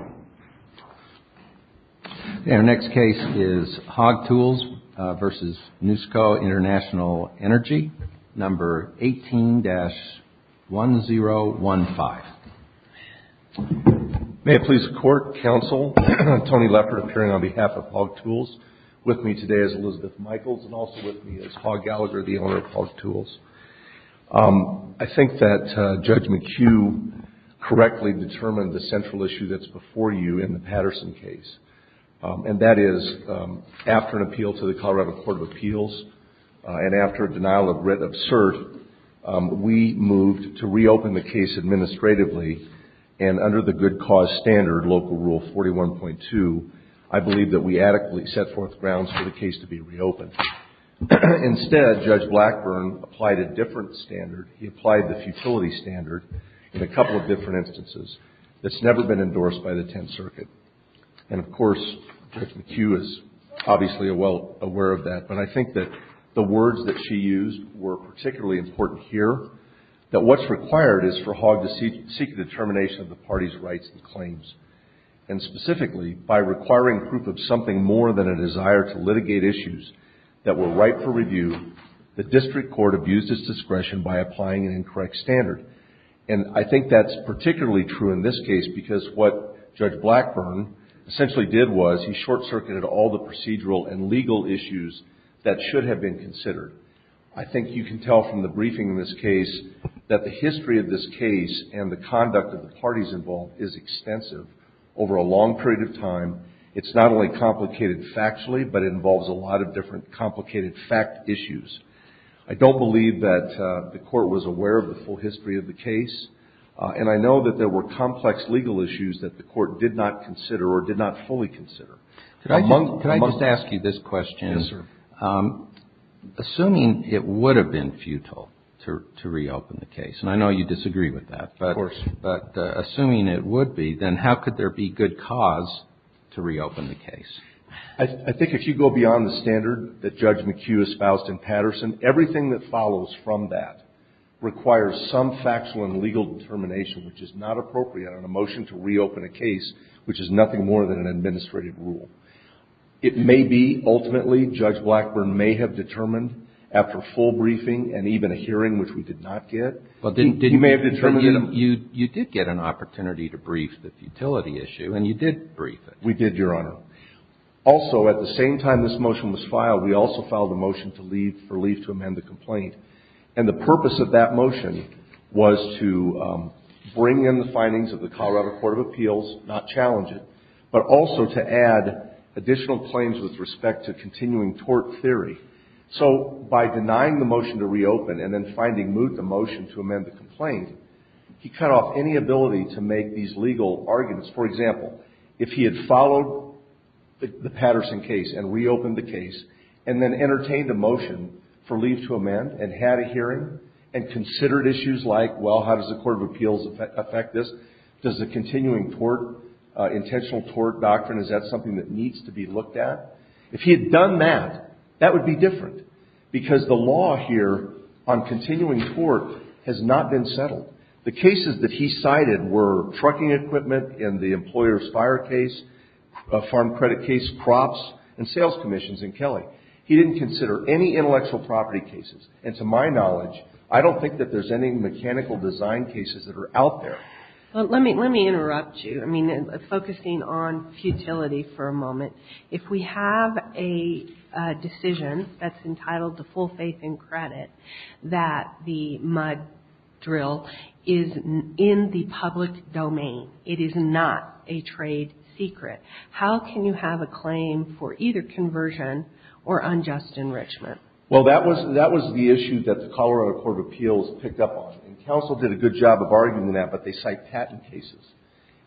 18-1015. May it please the Court, Counsel, Tony Leppard appearing on behalf of Hawg Tools, with me today is Elizabeth Michaels and also with me is Hawg Gallagher, the owner of Hawg Patterson case. And that is after an appeal to the Colorado Court of Appeals and after a denial of writ of cert, we moved to reopen the case administratively and under the good cause standard, Local Rule 41.2, I believe that we adequately set forth grounds for the case to be reopened. Instead, Judge Blackburn applied a different standard. He applied the futility standard in a couple of different instances that's never been endorsed by the Tenth Circuit. And of course, Judge McHugh is obviously well aware of that, but I think that the words that she used were particularly important here, that what's required is for Hawg to seek a determination of the party's rights and claims. And specifically, by requiring proof of something more than a desire to litigate issues that were ripe for review, the district court abused its discretion by applying an additional standard. What Judge Blackburn essentially did was he short-circuited all the procedural and legal issues that should have been considered. I think you can tell from the briefing in this case that the history of this case and the conduct of the parties involved is extensive. Over a long period of time, it's not only complicated factually, but it involves a lot of different complicated fact issues. I don't believe that the court was aware of the historical history of the case, and I know that there were complex legal issues that the court did not consider or did not fully consider. Can I just ask you this question? Yes, sir. Assuming it would have been futile to reopen the case, and I know you disagree with that, but assuming it would be, then how could there be good cause to reopen the case? I think if you go beyond the standard that Judge McHugh espoused in Patterson, everything that follows from that requires some factual and legal determination, which is not appropriate on a motion to reopen a case, which is nothing more than an administrative rule. It may be, ultimately, Judge Blackburn may have determined after full briefing and even a hearing, which we did not get, he may have determined that he did not get a full hearing. You did get an opportunity to brief the futility issue, and you did brief it. We did, Your Honor. Also, at the same time this motion was filed, we also filed a motion to leave or leave to amend the complaint. And the purpose of that motion was to bring in the findings of the Colorado Court of Appeals, not challenge it, but also to add additional claims with respect to continuing tort theory. So by denying the motion to reopen and then finding moot the motion to amend the complaint, he cut off any ability to make these legal arguments. For example, if he had followed the Patterson case and reopened the case and then entertained a motion for leave to amend and had a hearing and considered issues like, well, how does the Court of Appeals affect this? Does the continuing tort, intentional tort doctrine, is that something that needs to be looked at? If he had done that, that would be different, because the law here on continuing tort has not been considered. He didn't consider parking equipment in the employer's fire case, farm credit case, crops, and sales commissions in Kelly. He didn't consider any intellectual property cases. And to my knowledge, I don't think that there's any mechanical design cases that are out there. Well, let me interrupt you. I mean, focusing on futility for a moment, if we have a decision that's entitled to full faith and credit that the MUD drill is in the public domain, it is not a trade secret, how can you have a claim for either conversion or unjust enrichment? Well, that was the issue that the Colorado Court of Appeals picked up on. And counsel did a good job of arguing that, but they cite patent cases.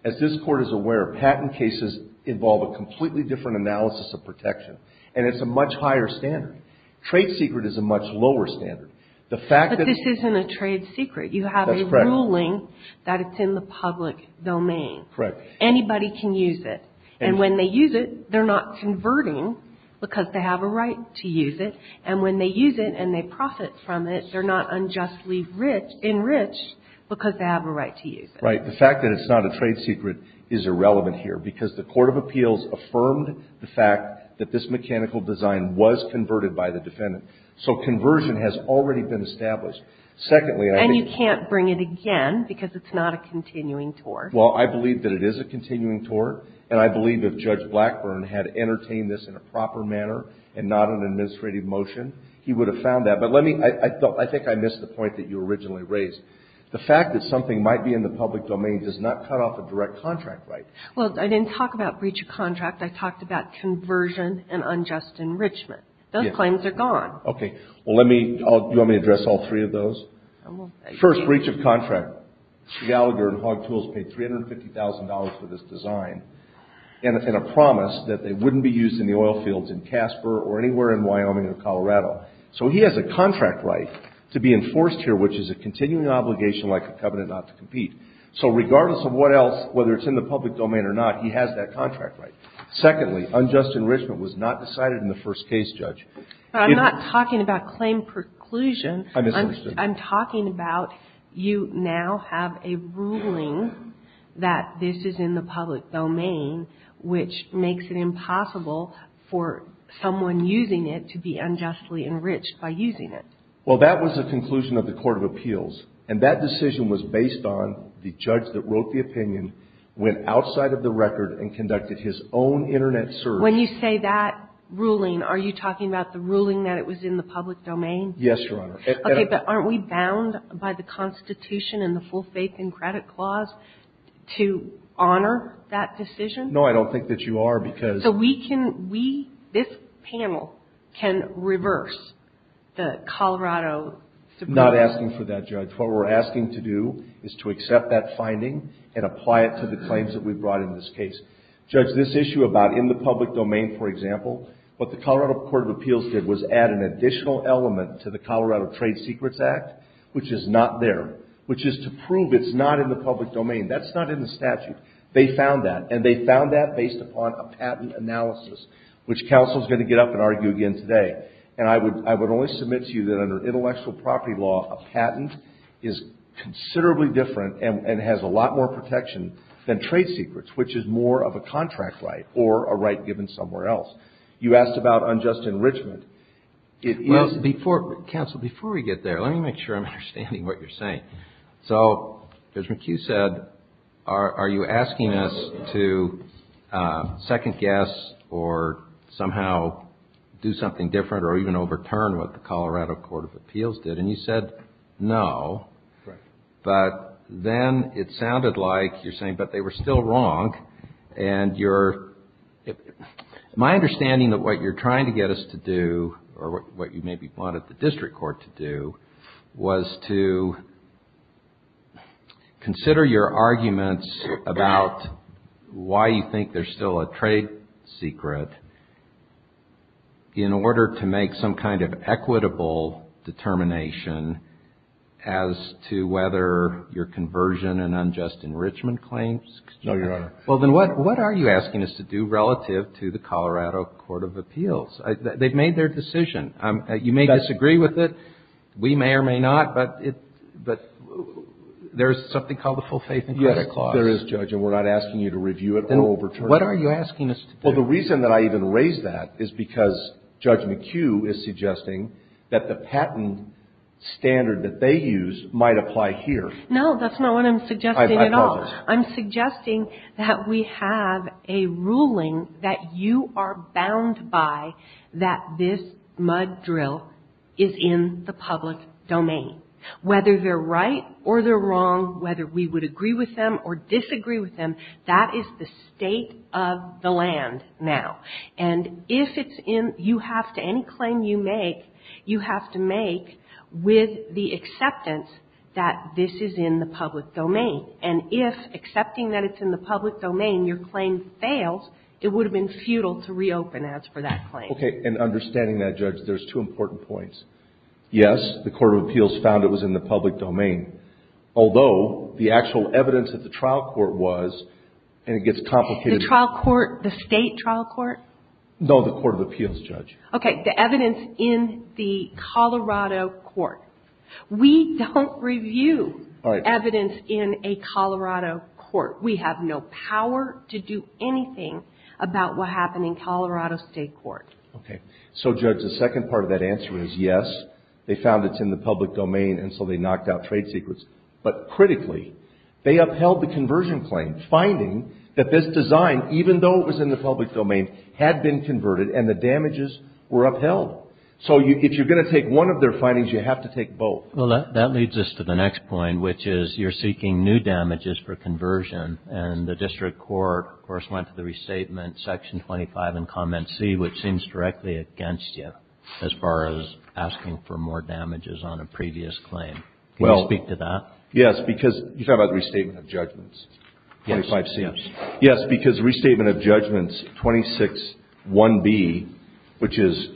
As this Court is aware, patent cases involve a completely different analysis of protection, and it's a much higher standard. Trade secret is a much lower standard. But this isn't a trade secret. You have a ruling that it's in the public domain. Correct. Anybody can use it. And when they use it, they're not converting because they have a right to use it. And when they use it and they profit from it, they're not unjustly enriched because they have a right to use it. Right. The fact that it's not a trade secret is irrelevant here, because the Court of Appeals affirmed the fact that this mechanical design was converted by the defendant. So conversion has already been established. Secondly, I think And you can't bring it again because it's not a continuing tort. Well, I believe that it is a continuing tort, and I believe if Judge Blackburn had entertained this in a proper manner and not an administrative motion, he would have found that. But let me, I think I missed the point that you originally raised. The fact that something might be in the public domain does not cut off a direct Well, I didn't talk about breach of contract. I talked about conversion and unjust enrichment. Those claims are gone. Okay. Well, let me, do you want me to address all three of those? First, breach of contract. Gallagher and Hogg Tools paid $350,000 for this design in a promise that they wouldn't be used in the oil fields in Casper or anywhere in Second, unjust enrichment was not decided in the first case, Judge. I'm not talking about claim preclusion. I'm talking about you now have a ruling that this is in the public domain, which makes it impossible for someone using it to be unjustly enriched by using it. Well, that was the conclusion of the Court of Appeals, and that decision was based on the judge that wrote the opinion, went outside of the record, and conducted his own Internet search. When you say that ruling, are you talking about the ruling that it was in the public domain? Yes, Your Honor. Okay, but aren't we bound by the Constitution and the full faith and credit clause to honor that decision? No, I don't think that you are because So we can, we, this panel can reverse the Colorado Supreme Court Not asking for that, Judge. What we're asking to do is to accept that finding and apply it to the claims that we brought in this case. Judge, this issue about in the public domain, for example, what the Colorado Court of Appeals did was add an additional element to the Colorado Trade Secrets Act, which is not there, which is to prove it's not in the public domain. That's not in the statute. They found that, and they found that based upon a patent analysis, which counsel is going to get up and argue again today. And I would only submit to you that under intellectual property law, a patent is considerably different and has a lot more protection than trade secrets, which is more of a contract right or a right given somewhere else. You asked about unjust enrichment. Counsel, before we get there, let me make sure I'm understanding what you're saying. So Judge McHugh said, are you asking us to second guess or somehow do something different or even overturn what the Colorado Court of Appeals did? And you said no. But then it sounded like you're saying, but they were still wrong. And my understanding of what you're trying to get us to do or what you maybe wanted the district court to do was to consider your arguments about why you think there's still a trade secret in order to make some kind of equitable determination as to whether your conversion and unjust enrichment claims? No, Your Honor. Well, then what are you asking us to do relative to the Colorado Court of Appeals? They've made their decision. You may disagree with it. We may or may not, but there's something called the full faith and credit clause. Yes, there is, Judge, and we're not asking you to review it or overturn it. What are you asking us to do? Well, the reason that I even raised that is because Judge McHugh is suggesting that the patent standard that they use might apply here. No, that's not what I'm suggesting at all. I'm suggesting that we have a ruling that you are bound by that this mud drill is in the public domain. Whether they're right or they're wrong, whether we would agree with them or disagree with them, that is the state of the land now. And if it's in, you have to, any claim you make, you have to make with the acceptance that this is in the public domain. And if accepting that it's in the public domain, your claim fails, it would have been futile to reopen as for that claim. Okay, and understanding that, Judge, there's two important points. Yes, the Court of Appeals found it was in the public domain, although the actual evidence at the trial court was, and it gets complicated. The trial court, the state trial court? No, the Court of Appeals, Judge. Okay, the evidence in the Colorado court. We don't review evidence in a Colorado court. We have no power to do anything about what happened in Colorado State Court. Okay. So, Judge, the second part of that answer is yes, they found it's in the public domain, and so they knocked out trade secrets. But critically, they upheld the conversion claim, finding that this design, even though it was in the public domain, had been converted and the damages were upheld. So if you're going to take one of their findings, you have to take both. Well, that leads us to the next point, which is you're seeking new damages for conversion. And the district court, of course, went to the restatement, section 25 in comment C, which seems directly against you as far as asking for more damages on a previous claim. Can you speak to that? Yes, because you're talking about the restatement of judgments, 25C. Yes. Yes, because restatement of judgments 261B, which is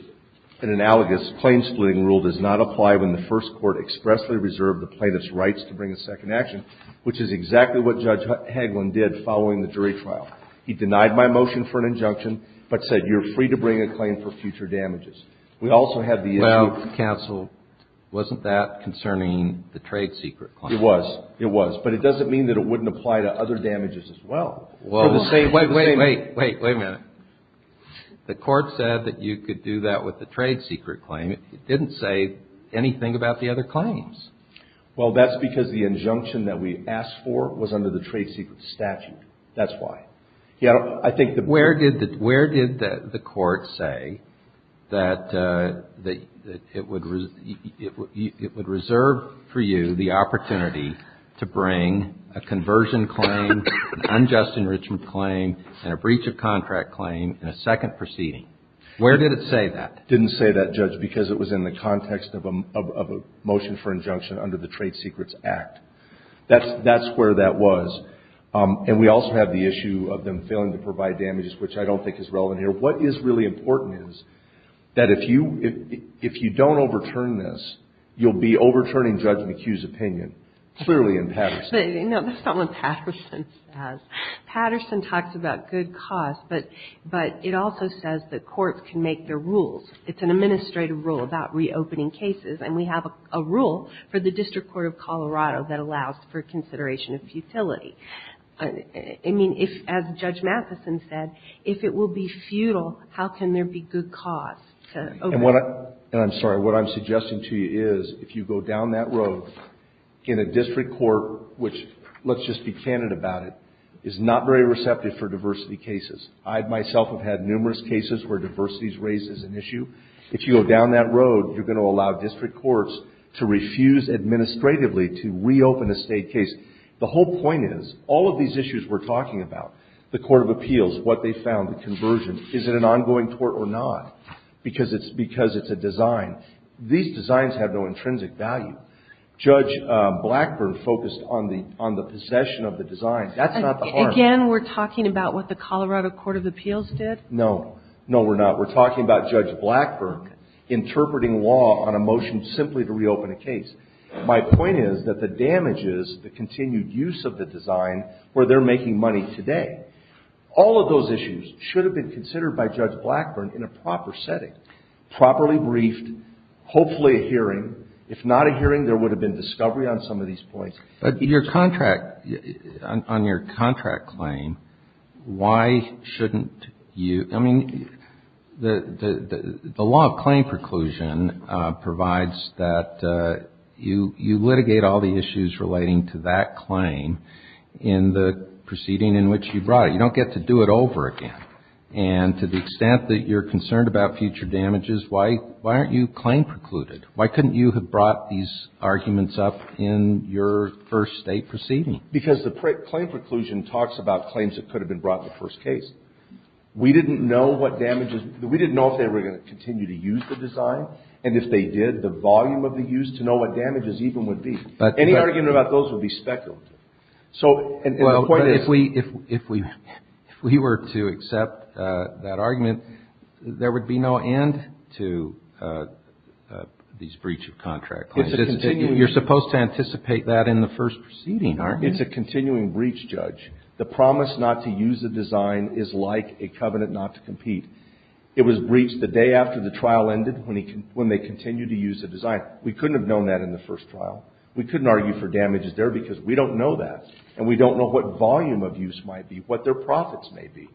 an analogous claim-splitting rule, does not apply when the first court expressly reserved the plaintiff's rights to bring a second action, which is exactly what Judge Hagelin did following the jury trial. He denied my motion for an injunction, but said, you're free to bring a claim for future damages. We also had the issue of – It was. It was. But it doesn't mean that it wouldn't apply to other damages as well. Wait, wait, wait. Wait a minute. The court said that you could do that with the trade secret claim. It didn't say anything about the other claims. Well, that's because the injunction that we asked for was under the trade secret statute. That's why. Where did the court say that it would reserve for you the opportunity to bring a conversion claim, an unjust enrichment claim, and a breach of contract claim in a second proceeding? Where did it say that? It didn't say that, Judge, because it was in the context of a motion for injunction under the Trade Secrets Act. That's where that was. And we also have the issue of them failing to provide damages, which I don't think is relevant here. What is really important is that if you don't overturn this, you'll be overturning Judge McHugh's opinion, clearly in Patterson. No, that's not what Patterson says. Patterson talks about good cause, but it also says that courts can make their rules. It's an administrative rule about reopening cases, and we have a rule for the District Court of Colorado that allows for consideration of futility. I mean, if, as Judge Matheson said, if it will be futile, how can there be good cause to overturn it? And I'm sorry. What I'm suggesting to you is if you go down that road in a district court, which, let's just be candid about it, is not very receptive for diversity cases. I myself have had numerous cases where diversity is raised as an issue. If you go down that road, you're going to allow district courts to refuse administratively to reopen a State case. The whole point is, all of these issues we're talking about, the court of appeals, what they found, the conversion, is it an ongoing tort or not, because it's a design. These designs have no intrinsic value. Judge Blackburn focused on the possession of the design. That's not the harm. Again, we're talking about what the Colorado court of appeals did? No. No, we're not. We're talking about Judge Blackburn interpreting law on a motion simply to reopen a case. My point is that the damage is the continued use of the design where they're making money today. All of those issues should have been considered by Judge Blackburn in a proper setting, properly briefed, hopefully a hearing. If not a hearing, there would have been discovery on some of these points. But your contract, on your contract claim, why shouldn't you? I mean, the law of claim preclusion provides that you litigate all the issues relating to that claim in the proceeding in which you brought it. You don't get to do it over again. And to the extent that you're concerned about future damages, why aren't you claim precluded? Why couldn't you have brought these arguments up in your first state proceeding? Because the claim preclusion talks about claims that could have been brought in the first case. We didn't know what damages we didn't know if they were going to continue to use the design. And if they did, the volume of the use to know what damages even would be. Any argument about those would be speculative. Well, if we were to accept that argument, there would be no end to these breach of contract claims. You're supposed to anticipate that in the first proceeding, aren't you? It's a continuing breach, Judge. The promise not to use the design is like a covenant not to compete. It was breached the day after the trial ended when they continued to use the design. We couldn't have known that in the first trial. We couldn't argue for damages there because we don't know that. And we don't know what volume of use might be, what their profits may be.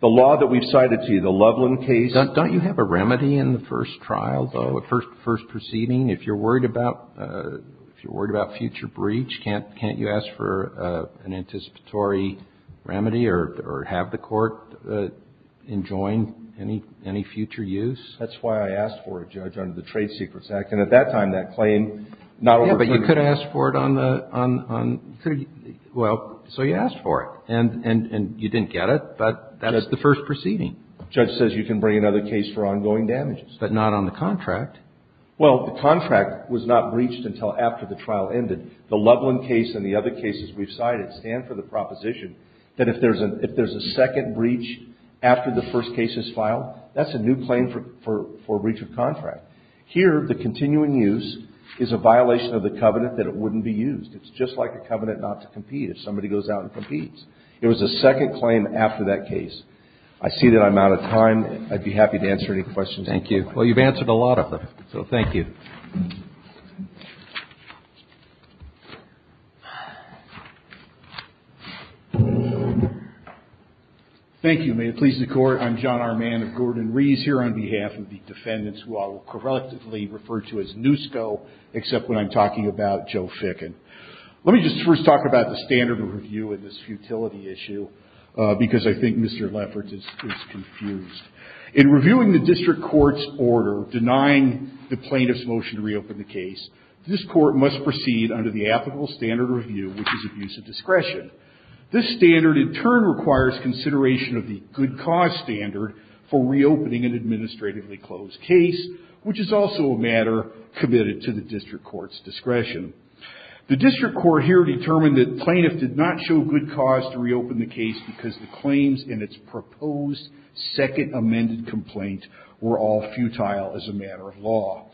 The law that we've cited to you, the Loveland case. Don't you have a remedy in the first trial, though, first proceeding? If you're worried about future breach, can't you ask for an anticipatory remedy or have the court enjoin any future use? That's why I asked for it, Judge, under the Trade Secrets Act. And at that time, that claim, not over 20 years. Yeah, but you could ask for it on the – well, so you asked for it. And you didn't get it, but that's the first proceeding. The judge says you can bring another case for ongoing damages. But not on the contract. Well, the contract was not breached until after the trial ended. The Loveland case and the other cases we've cited stand for the proposition that if there's a second breach after the first case is filed, that's a new claim for breach of contract. Here, the continuing use is a violation of the covenant that it wouldn't be used. It's just like a covenant not to compete if somebody goes out and competes. It was a second claim after that case. I see that I'm out of time. I'd be happy to answer any questions. Thank you. Well, you've answered a lot of them, so thank you. Thank you. May it please the Court. I'm John Armand of Gordon-Rees here on behalf of the defendants who I will correctively refer to as NUSCO, except when I'm talking about Joe Fickin. Let me just first talk about the standard of review in this futility issue, because I think Mr. Lefferts is confused. In reviewing the district court's order denying the plaintiff's motion to reopen the case, this court must proceed under the applicable standard of review, which is abuse of discretion. This standard, in turn, requires consideration of the good cause standard for reopening an administratively closed case, which is also a matter committed to the district court's discretion. The district court here determined that the plaintiff did not show good cause to reopen the case because the claims in its proposed second amended complaint were all futile as a matter of law.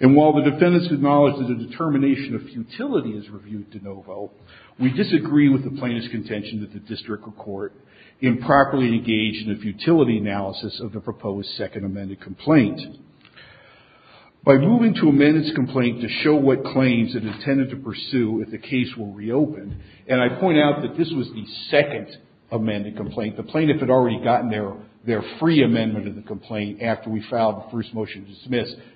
And while the defendants acknowledge that the determination of futility is reviewed de novo, we disagree with the plaintiff's contention that the district court improperly engaged in a futility analysis of the proposed second amended complaint. By moving to amend its complaint to show what claims it intended to pursue if the case were reopened, and I point out that this was the second amended complaint, the plaintiff had already gotten their free amendment of the complaint after we filed the first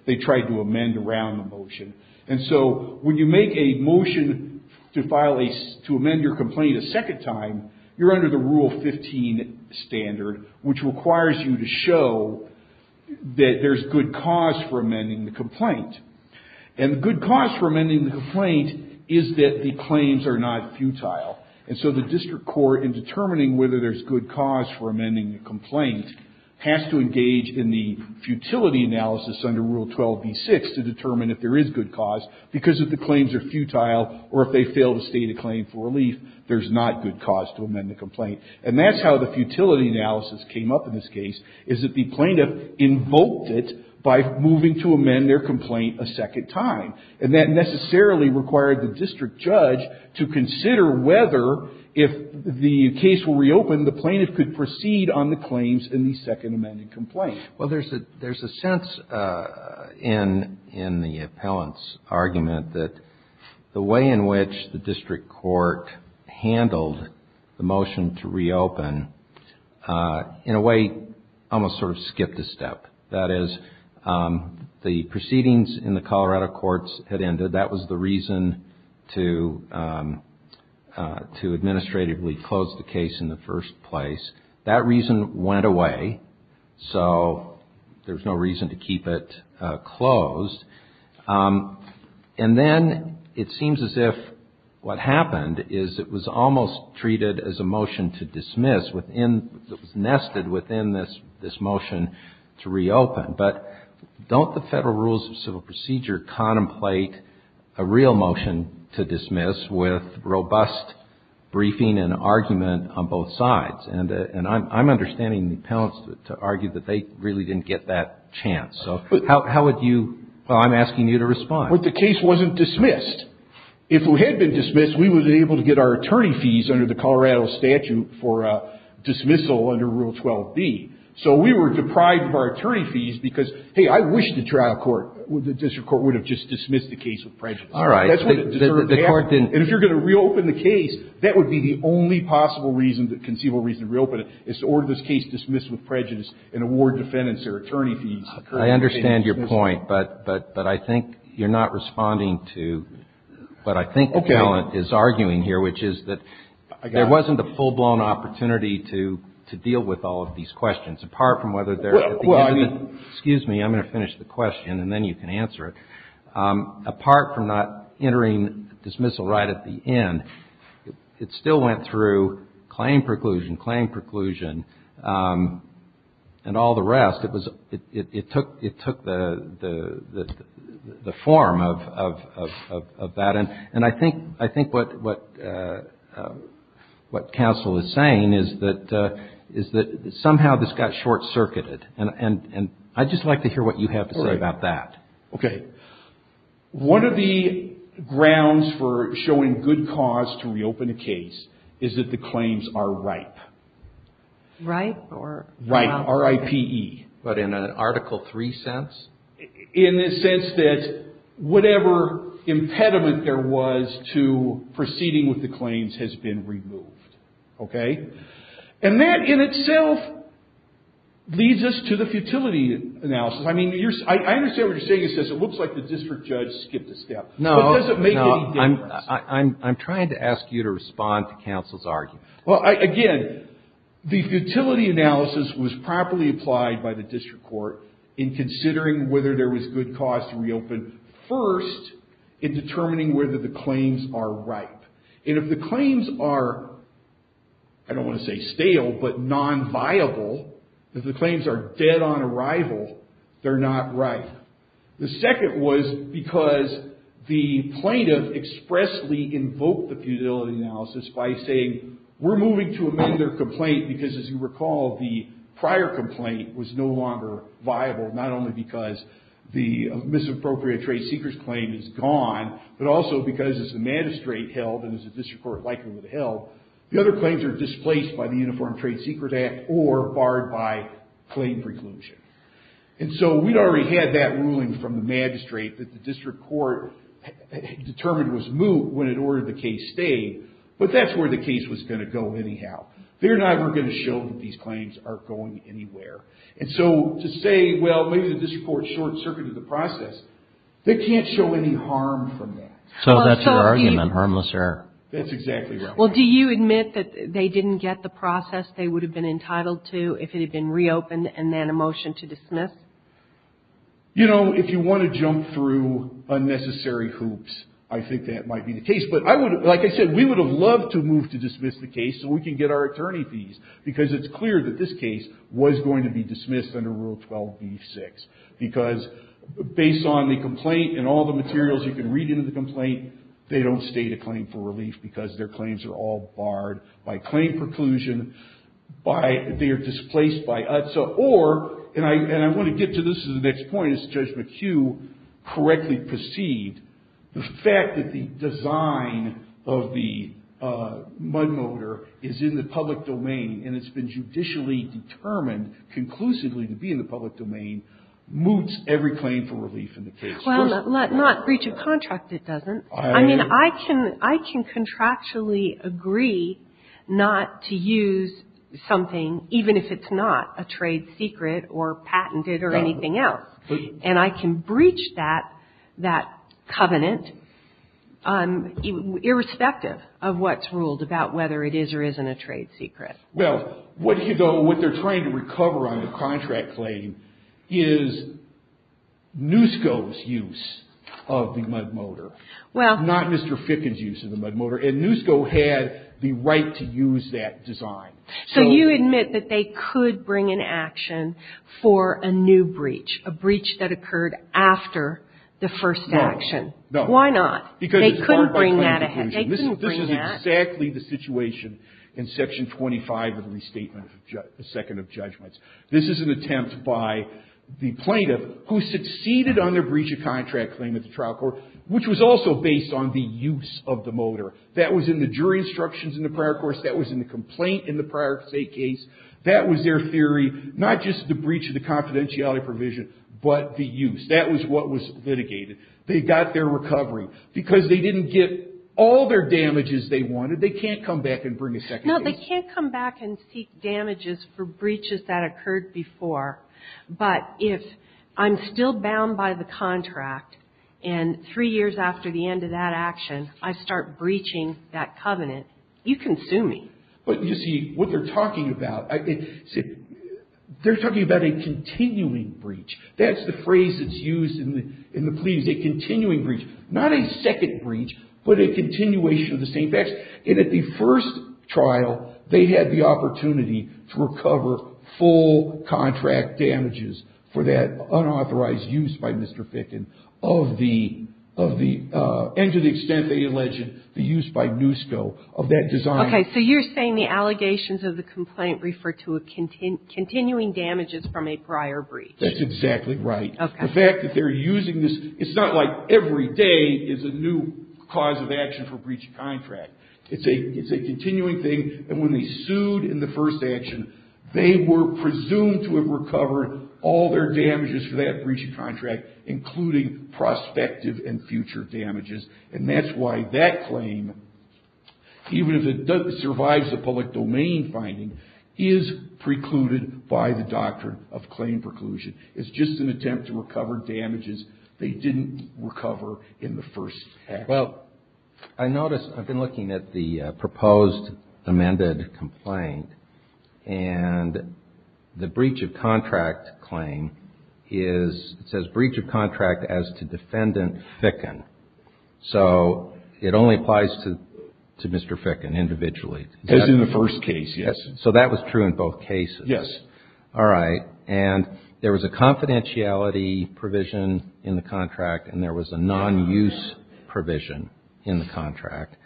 They tried to amend around the motion. And so when you make a motion to file a, to amend your complaint a second time, you're under the Rule 15 standard, which requires you to show that there's good cause for amending the complaint. And the good cause for amending the complaint is that the claims are not futile. And so the district court, in determining whether there's good cause for amending the complaint, has to engage in the futility analysis under Rule 12b-6 to determine if there is good cause, because if the claims are futile or if they fail to state a claim for relief, there's not good cause to amend the complaint. And that's how the futility analysis came up in this case, is that the plaintiff invoked it by moving to amend their complaint a second time. And that necessarily required the district judge to consider whether, if the case were reopened, the plaintiff could proceed on the claims in the second amended complaint. Well, there's a sense in the appellant's argument that the way in which the district court handled the motion to reopen, in a way, almost sort of skipped a step. That is, the proceedings in the Colorado courts had ended. That was the reason to administratively close the case in the first place. That reason went away. So there's no reason to keep it closed. And then it seems as if what happened is it was almost treated as a motion to dismiss within, it was nested within this motion to reopen. But don't the Federal Rules of Civil Procedure contemplate a real motion to dismiss with robust briefing and argument on both sides? And I'm understanding the appellants to argue that they really didn't get that chance. So how would you – well, I'm asking you to respond. Well, the case wasn't dismissed. If it had been dismissed, we would have been able to get our attorney fees under the Colorado statute for dismissal under Rule 12b. So we were deprived of our attorney fees because, hey, I wish the trial court, the district court, would have just dismissed the case with prejudice. All right. The court didn't. And if you're going to reopen the case, that would be the only possible reason, conceivable reason to reopen it, is to order this case dismissed with prejudice and award defendants their attorney fees. I understand your point. But I think you're not responding to what I think the appellant is arguing here, which is that there wasn't a full-blown opportunity to deal with all of these questions, apart from whether they're at the end of the – Well, I mean – Excuse me. I'm going to finish the question, and then you can answer it. Apart from not entering dismissal right at the end, it still went through claim preclusion, claim preclusion, and all the rest. It was – it took the form of that. And I think what counsel is saying is that somehow this got short-circuited. And I'd just like to hear what you have to say about that. Okay. One of the grounds for showing good cause to reopen a case is that the claims are ripe. Ripe, or – Ripe, R-I-P-E. But in an Article III sense? In the sense that whatever impediment there was to proceeding with the claims has been removed. Okay? And that in itself leads us to the futility analysis. I mean, I understand what you're saying. It says it looks like the district judge skipped a step. No. But does it make any difference? No. I'm trying to ask you to respond to counsel's argument. Well, again, the futility analysis was properly applied by the district court in considering whether there was good cause to reopen first in determining whether the claims are ripe. And if the claims are – I don't want to say stale, but non-viable, if the claims are dead on arrival, they're not ripe. The second was because the plaintiff expressly invoked the futility analysis by saying we're moving to amend their complaint because, as you recall, the prior complaint was no longer viable, not only because the misappropriated trade secrets claim is gone, but also because as the magistrate held, and as the district court likely would have held, the other claims are displaced by the Uniform Trade Secret Act or barred by claim preclusion. And so we'd already had that ruling from the magistrate that the district court determined was moot when it ordered the case stayed, but that's where the case was going to go anyhow. They're not ever going to show that these claims are going anywhere. And so to say, well, maybe the district court short-circuited the process, they can't show any harm from that. So that's your argument, harmless error. That's exactly right. Well, do you admit that they didn't get the process they would have been entitled to if it had been reopened and then a motion to dismiss? You know, if you want to jump through unnecessary hoops, I think that might be the case. But like I said, we would have loved to move to dismiss the case so we can get our attorney fees, because it's clear that this case was going to be dismissed under Rule 12b-6, because based on the complaint and all the materials you can read into the complaint, they don't state a claim for relief, because their claims are all barred by claim preclusion, by they are displaced by UTSA, or, and I want to get to this as the next point, as Judge McHugh correctly perceived, the fact that the design of the mud motor is in the public domain and it's been judicially determined conclusively to be in the public domain moots every claim for relief in the case. Well, not breach of contract it doesn't. I mean, I can contractually agree not to use something, even if it's not a trade secret or patented or anything else. And I can breach that covenant irrespective of what's ruled about whether it is or isn't a trade secret. Well, what they're trying to recover on the contract claim is NUSCO's use of the mud motor. Well. Not Mr. Fickin's use of the mud motor. And NUSCO had the right to use that design. So you admit that they could bring an action for a new breach, a breach that occurred after the first action. Why not? Because it's barred by claim preclusion. They couldn't bring that. This is exactly the situation in Section 25 of the Restatement of the Second of Judgments. This is an attempt by the plaintiff, who succeeded on their breach of contract claim at the trial court, which was also based on the use of the motor. That was in the jury instructions in the prior course. That was in the complaint in the prior state case. That was their theory, not just the breach of the confidentiality provision, but the use. That was what was litigated. They got their recovery. Because they didn't get all their damages they wanted, they can't come back and bring a second case. No, they can't come back and seek damages for breaches that occurred before. But if I'm still bound by the contract, and three years after the end of that action, I start breaching that covenant, you can sue me. But you see, what they're talking about, they're talking about a continuing breach. That's the phrase that's used in the plea, is a continuing breach. Not a second breach, but a continuation of the same action. And at the first trial, they had the opportunity to recover full contract damages for that unauthorized use by Mr. Fickin, and to the extent they alleged the use by NUSCO of that design. Okay, so you're saying the allegations of the complaint refer to a continuing damages from a prior breach. That's exactly right. Okay. The fact that they're using this, it's not like every day is a new cause of action for breach of contract. It's a continuing thing. And when they sued in the first action, they were presumed to have recovered all their damages for that breach of contract, including prospective and future damages. And that's why that claim, even if it survives the public domain finding, is precluded by the doctrine of claim preclusion. It's just an attempt to recover damages they didn't recover in the first action. Well, I noticed, I've been looking at the proposed amended complaint, and the breach of contract claim is, it says breach of contract as to defendant Fickin. So it only applies to Mr. Fickin individually. As in the first case, yes. So that was true in both cases. Yes. All right. And there was a confidentiality provision in the contract, and there was a non-use provision in the contract.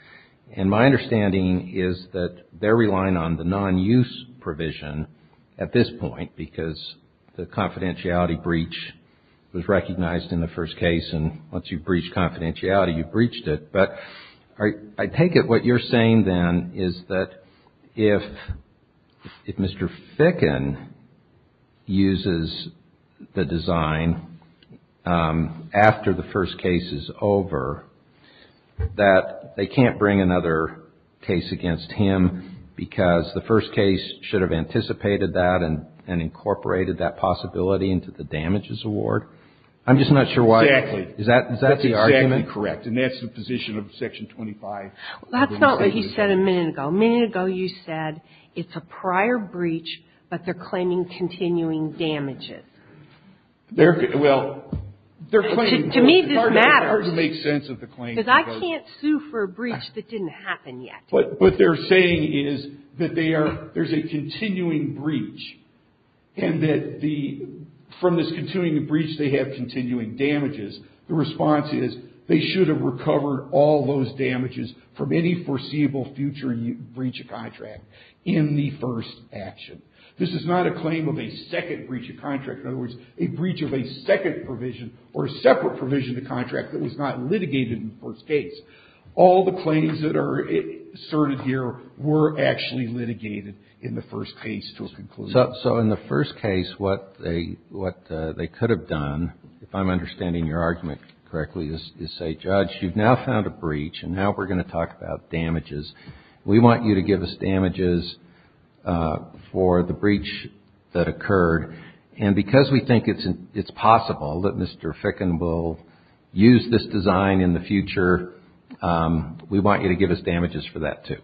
And my understanding is that they're relying on the non-use provision at this point, because the confidentiality breach was recognized in the first case, and once you've breached confidentiality, you've breached it. But I take it what you're saying, then, is that if Mr. Fickin uses the design after the first case is over, that they can't bring another case against him because the first case should have anticipated that and incorporated that possibility into the damages award? I'm just not sure why. Exactly. Is that the argument? That's incorrect. And that's the position of Section 25. That's not what you said a minute ago. A minute ago, you said it's a prior breach, but they're claiming continuing damages. They're, well, they're claiming. To me, this matters. It's hard to make sense of the claim. Because I can't sue for a breach that didn't happen yet. But what they're saying is that they are, there's a continuing breach, and that the, from this continuing breach, they have continuing damages. The response is they should have recovered all those damages from any foreseeable future breach of contract in the first action. This is not a claim of a second breach of contract. In other words, a breach of a second provision or a separate provision of the contract that was not litigated in the first case. All the claims that are asserted here were actually litigated in the first case to a conclusion. So in the first case, what they could have done, if I'm understanding your argument correctly, is say, Judge, you've now found a breach, and now we're going to talk about damages. We want you to give us damages for the breach that occurred. And because we think it's possible that Mr. Ficken will use this design in the future, we want you to give us damages for that, too.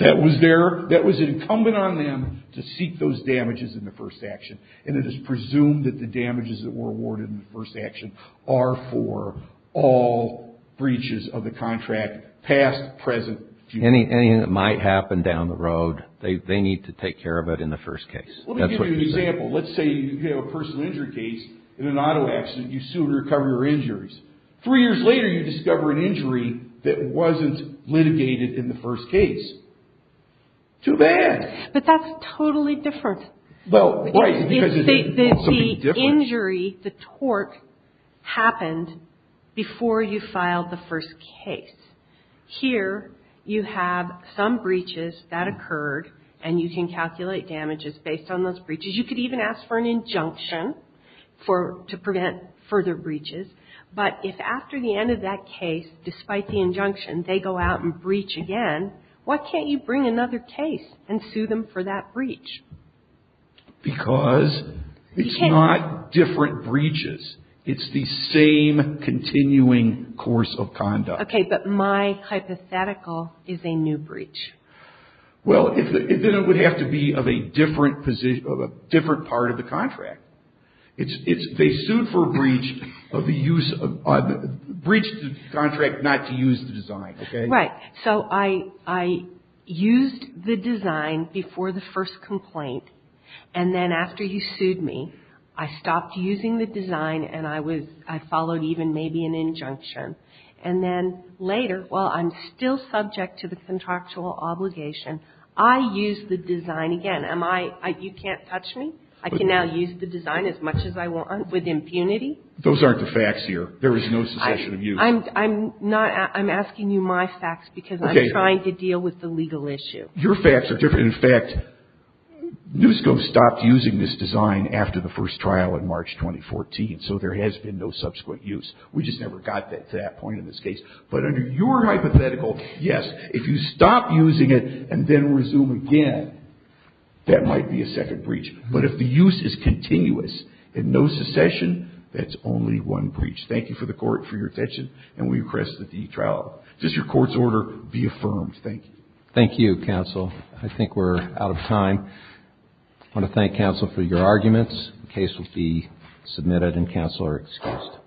That was incumbent on them to seek those damages in the first action. And it is presumed that the damages that were awarded in the first action are for all breaches of the contract, past, present, future. Anything that might happen down the road, they need to take care of it in the first case. Let me give you an example. Let's say you have a personal injury case in an auto accident. You sue to recover your injuries. Three years later, you discover an injury that wasn't litigated in the first case. Too bad. But that's totally different. Well, right, because it's something different. The injury, the torque, happened before you filed the first case. Here, you have some breaches that occurred, and you can calculate damages based on those breaches. You could even ask for an injunction to prevent further breaches. But if after the end of that case, despite the injunction, they go out and breach again, why can't you bring another case and sue them for that breach? Because it's not different breaches. It's the same continuing course of conduct. Okay, but my hypothetical is a new breach. Well, then it would have to be of a different position, of a different part of the contract. They sued for a breach to contract not to use the design, okay? Right. So I used the design before the first complaint, and then after you sued me, I stopped using the design, and I followed even maybe an injunction. And then later, while I'm still subject to the contractual obligation, I used the design again. You can't touch me? I can now use the design as much as I want with impunity? Those aren't the facts here. There is no cessation of use. I'm asking you my facts because I'm trying to deal with the legal issue. Your facts are different. In fact, NUSCO stopped using this design after the first trial in March 2014, so there has been no subsequent use. We just never got to that point in this case. But under your hypothetical, yes, if you stop using it and then resume again, that might be a second breach. But if the use is continuous and no secession, that's only one breach. Thank you for the court for your attention, and we request that the e-trial, just your court's order, be affirmed. Thank you. Thank you, counsel. I think we're out of time. I want to thank counsel for your arguments. The case will be submitted, and counsel are excused.